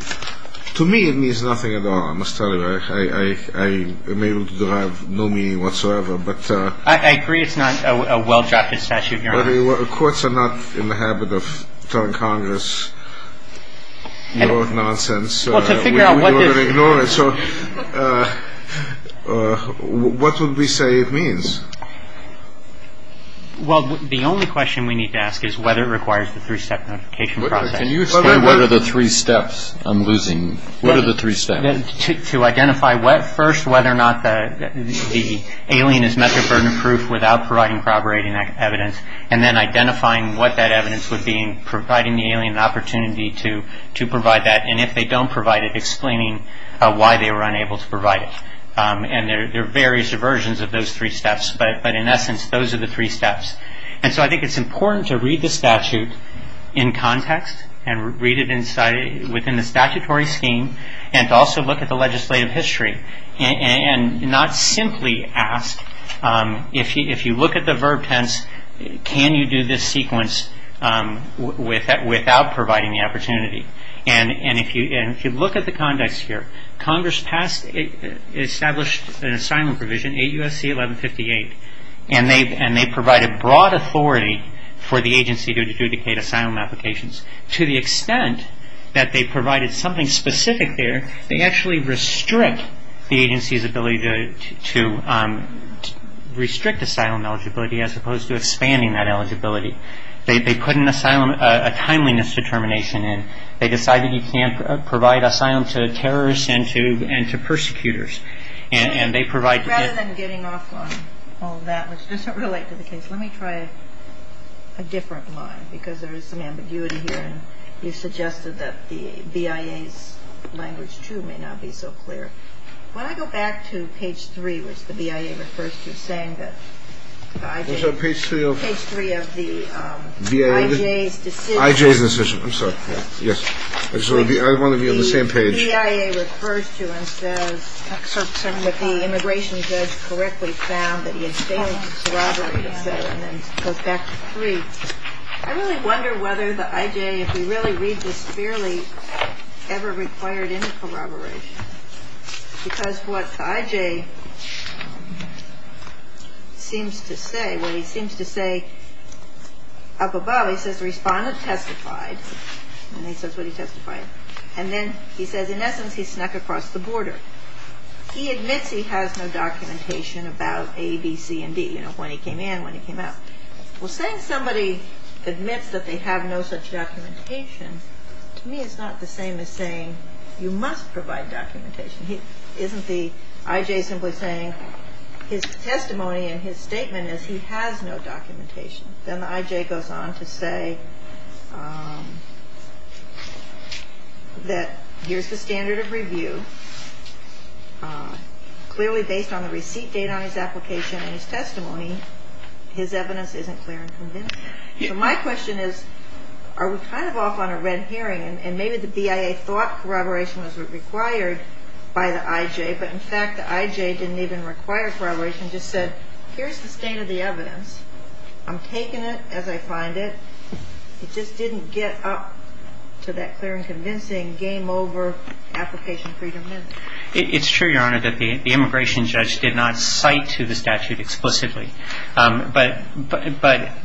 To me it means nothing at all. I must tell you, I am able to derive no meaning whatsoever. I agree it's not a well-drafted statute, Your Honor. Courts are not in the habit of telling Congress nonsense. Well, to figure out what this is. So what would we say it means? Well, the only question we need to ask is whether it requires the three-step notification process. Can you explain what are the three steps? I'm losing. What are the three steps? To identify first whether or not the alien is method burden proof without providing corroborating evidence and then identifying what that evidence would be and providing the alien the opportunity to provide that. And if they don't provide it, explaining why they were unable to provide it. And there are various versions of those three steps. But in essence, those are the three steps. And so I think it's important to read the statute in context and read it within the statutory scheme and also look at the legislative history and not simply ask. If you look at the verb tense, can you do this sequence without providing the opportunity? And if you look at the context here, Congress established an assignment provision, 8 U.S.C. 1158, and they provided broad authority for the agency to adjudicate assignment applications to the extent that they provided something specific there. They actually restrict the agency's ability to restrict asylum eligibility as opposed to expanding that eligibility. They put an asylum, a timeliness determination in. They decided you can't provide asylum to terrorists and to persecutors. And they provide. Rather than getting off on all that, which doesn't relate to the case, let me try a different line because there is some ambiguity here. And you suggested that the BIA's language, too, may not be so clear. When I go back to page 3, which the BIA refers to as saying that the IJ. Page 3 of. Page 3 of the IJ's decision. IJ's decision. I'm sorry. Yes. I just want to be on the same page. The BIA refers to and says that the immigration judge correctly found that he had failed to corroborate asylum. And it goes back to 3. I really wonder whether the IJ, if we really read this clearly, ever required any corroboration. Because what the IJ seems to say, what he seems to say up above, he says the respondent testified. And he says what he testified. And then he says, in essence, he snuck across the border. He admits he has no documentation about A, B, C, and D. You know, when he came in, when he came out. Well, saying somebody admits that they have no such documentation to me is not the same as saying you must provide documentation. Isn't the IJ simply saying his testimony and his statement is he has no documentation. Then the IJ goes on to say that here's the standard of review. Clearly based on the receipt date on his application and his testimony, his evidence isn't clear and convincing. So my question is, are we kind of off on a red herring? And maybe the BIA thought corroboration was required by the IJ. But, in fact, the IJ didn't even require corroboration. The IJ just said, here's the state of the evidence. I'm taking it as I find it. It just didn't get up to that clear and convincing game over application freedom. It's true, Your Honor, that the immigration judge did not cite to the statute explicitly. But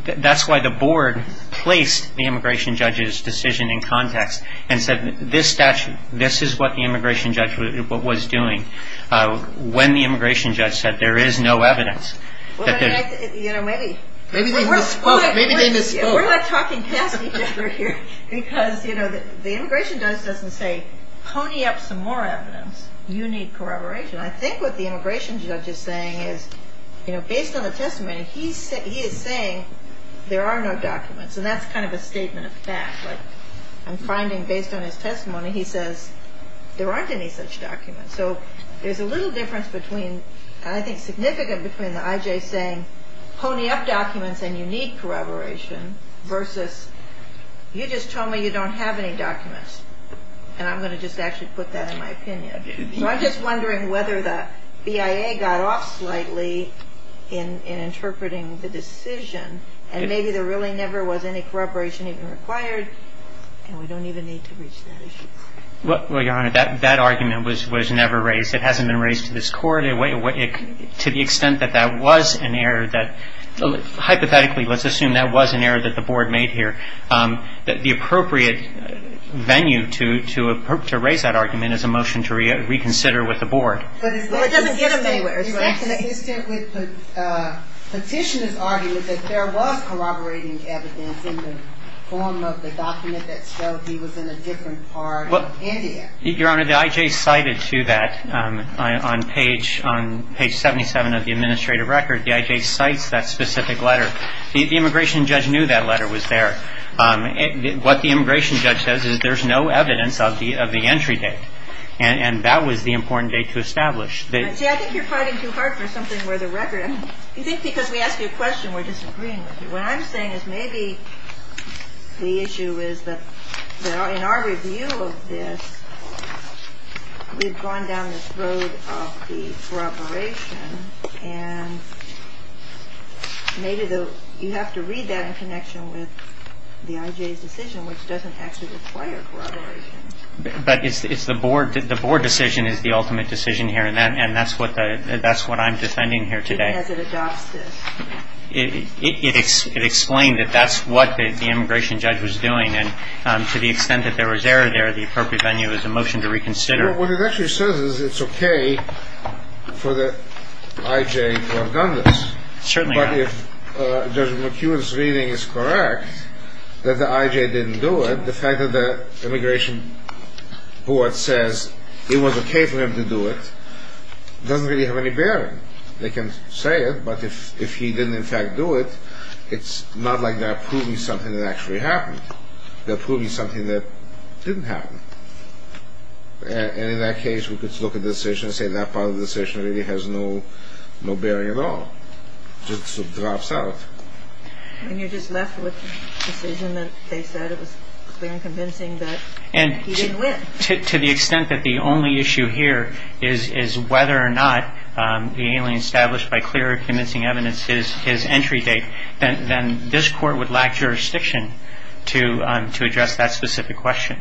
that's why the board placed the immigration judge's decision in context and said this statute, this is what the immigration judge was doing. When the immigration judge said there is no evidence. Maybe they misspoke. We're not talking past each other here. Because the immigration judge doesn't say pony up some more evidence. You need corroboration. I think what the immigration judge is saying is, based on the testimony, he is saying there are no documents. And that's kind of a statement of fact. I'm finding, based on his testimony, he says there aren't any such documents. So there's a little difference between, I think significant, between the IJ saying pony up documents and you need corroboration versus you just told me you don't have any documents. And I'm going to just actually put that in my opinion. So I'm just wondering whether the BIA got off slightly in interpreting the decision. And maybe there really never was any corroboration even required. And we don't even need to reach that issue. Well, Your Honor, that argument was never raised. It hasn't been raised to this court. To the extent that that was an error that, hypothetically, let's assume that was an error that the board made here, the appropriate venue to raise that argument is a motion to reconsider with the board. Well, it doesn't get him anywhere. It's inconsistent with petitioner's argument that there was corroborating evidence in the form of the document that showed he was in a different part of India. Your Honor, the IJ cited to that on page 77 of the administrative record. The IJ cites that specific letter. The immigration judge knew that letter was there. What the immigration judge says is there's no evidence of the entry date. And that was the important date to establish. See, I think you're fighting too hard for something where the record. I think because we ask you a question, we're disagreeing with you. What I'm saying is maybe the issue is that in our review of this, we've gone down this road of the corroboration. And maybe you have to read that in connection with the IJ's decision, which doesn't actually require corroboration. But it's the board. The board decision is the ultimate decision here. And that's what I'm defending here today. It explains that that's what the immigration judge was doing. And to the extent that there was error there, the appropriate venue is a motion to reconsider. What it actually says is it's okay for the IJ to have done this. Certainly. But if Judge McEwen's reading is correct, that the IJ didn't do it, the fact that the immigration board says it was okay for him to do it, doesn't really have any bearing. They can say it. But if he didn't in fact do it, it's not like they're proving something that actually happened. They're proving something that didn't happen. And in that case, we could look at the decision and say that part of the decision really has no bearing at all. It just drops out. And you're just left with the decision that they said it was clear and convincing, but he didn't win. And to the extent that the only issue here is whether or not the alien established by clear and convincing evidence is entry date, then this court would lack jurisdiction to address that specific question.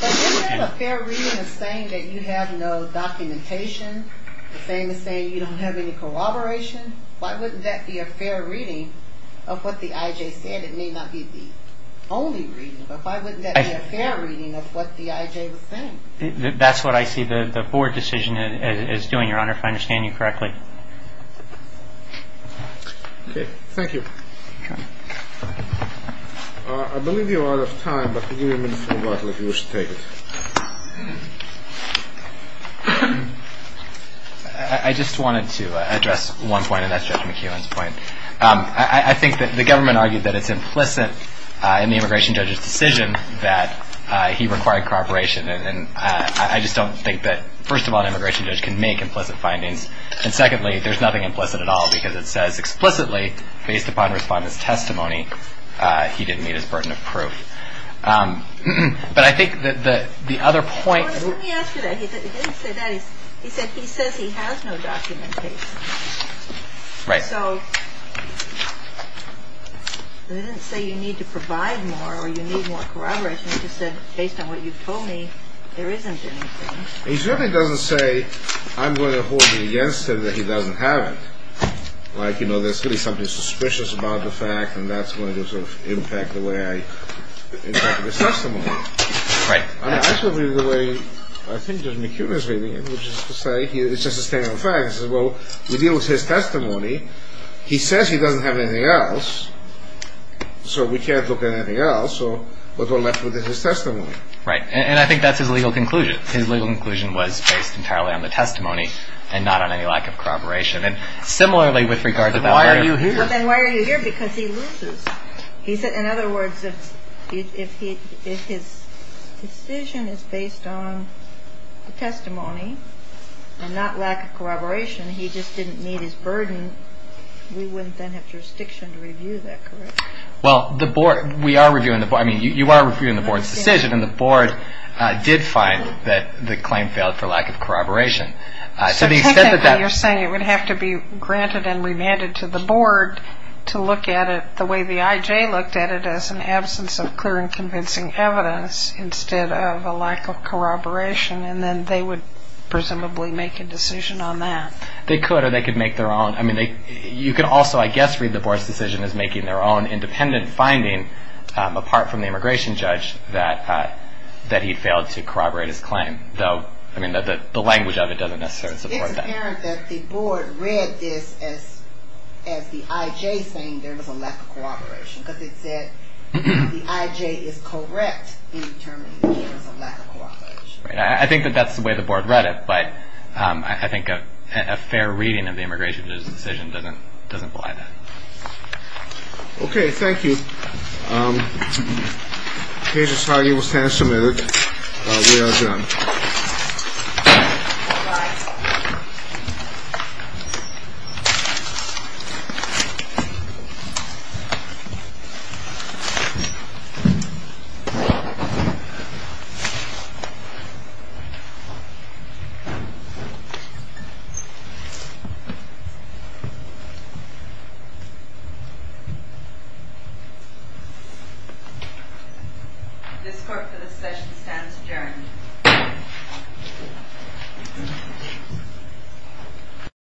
But if you have a fair reading of saying that you have no documentation, the same as saying you don't have any corroboration, why wouldn't that be a fair reading of what the IJ said? It may not be the only reading, but why wouldn't that be a fair reading of what the IJ was saying? That's what I see the board decision is doing, Your Honor, if I understand you correctly. Thank you. I believe you're out of time, but if you wish to take it. I just wanted to address one point, and that's Judge McKeown's point. I think that the government argued that it's implicit in the immigration judge's decision that he required corroboration. And I just don't think that, first of all, an immigration judge can make implicit findings. And secondly, there's nothing implicit at all, because it says explicitly, based upon respondent's testimony, he didn't meet his burden of proof. But I think that the other point. Let me ask you that. He didn't say that. He said he says he has no documentation. Right. So he didn't say you need to provide more or you need more corroboration. He just said, based on what you've told me, there isn't anything. He certainly doesn't say, I'm going to hold you against him that he doesn't have it. Like, you know, there's really something suspicious about the fact, and that's going to sort of impact the way I interpret his testimony. Right. I mean, that's really the way I think Judge McKeown is reading it, which is to say, it's just a statement of fact. He says, well, we deal with his testimony. He says he doesn't have anything else, so we can't look at anything else. So we're left with his testimony. Right. And I think that's his legal conclusion. His legal conclusion was based entirely on the testimony and not on any lack of corroboration. And similarly, with regards to that, why are you here? Then why are you here? Because he loses. He said, in other words, if his decision is based on the testimony and not lack of corroboration, he just didn't meet his burden. We wouldn't then have jurisdiction to review that, correct? Well, the board, we are reviewing the board. I mean, you are reviewing the board's decision, and the board did find that the claim failed for lack of corroboration. So technically, you're saying it would have to be granted and remanded to the board to look at it the way the IJ looked at it, as an absence of clear and convincing evidence instead of a lack of corroboration, and then they would presumably make a decision on that. They could, or they could make their own. I mean, you could also, I guess, read the board's decision as making their own independent finding, apart from the immigration judge, that he failed to corroborate his claim. Though, I mean, the language of it doesn't necessarily support that. It's apparent that the board read this as the IJ saying there was a lack of corroboration, because it said the IJ is correct in determining that there was a lack of corroboration. I think that that's the way the board read it, but I think a fair reading of the immigration judge's decision doesn't apply to that. Okay, thank you. This court for this session stands adjourned.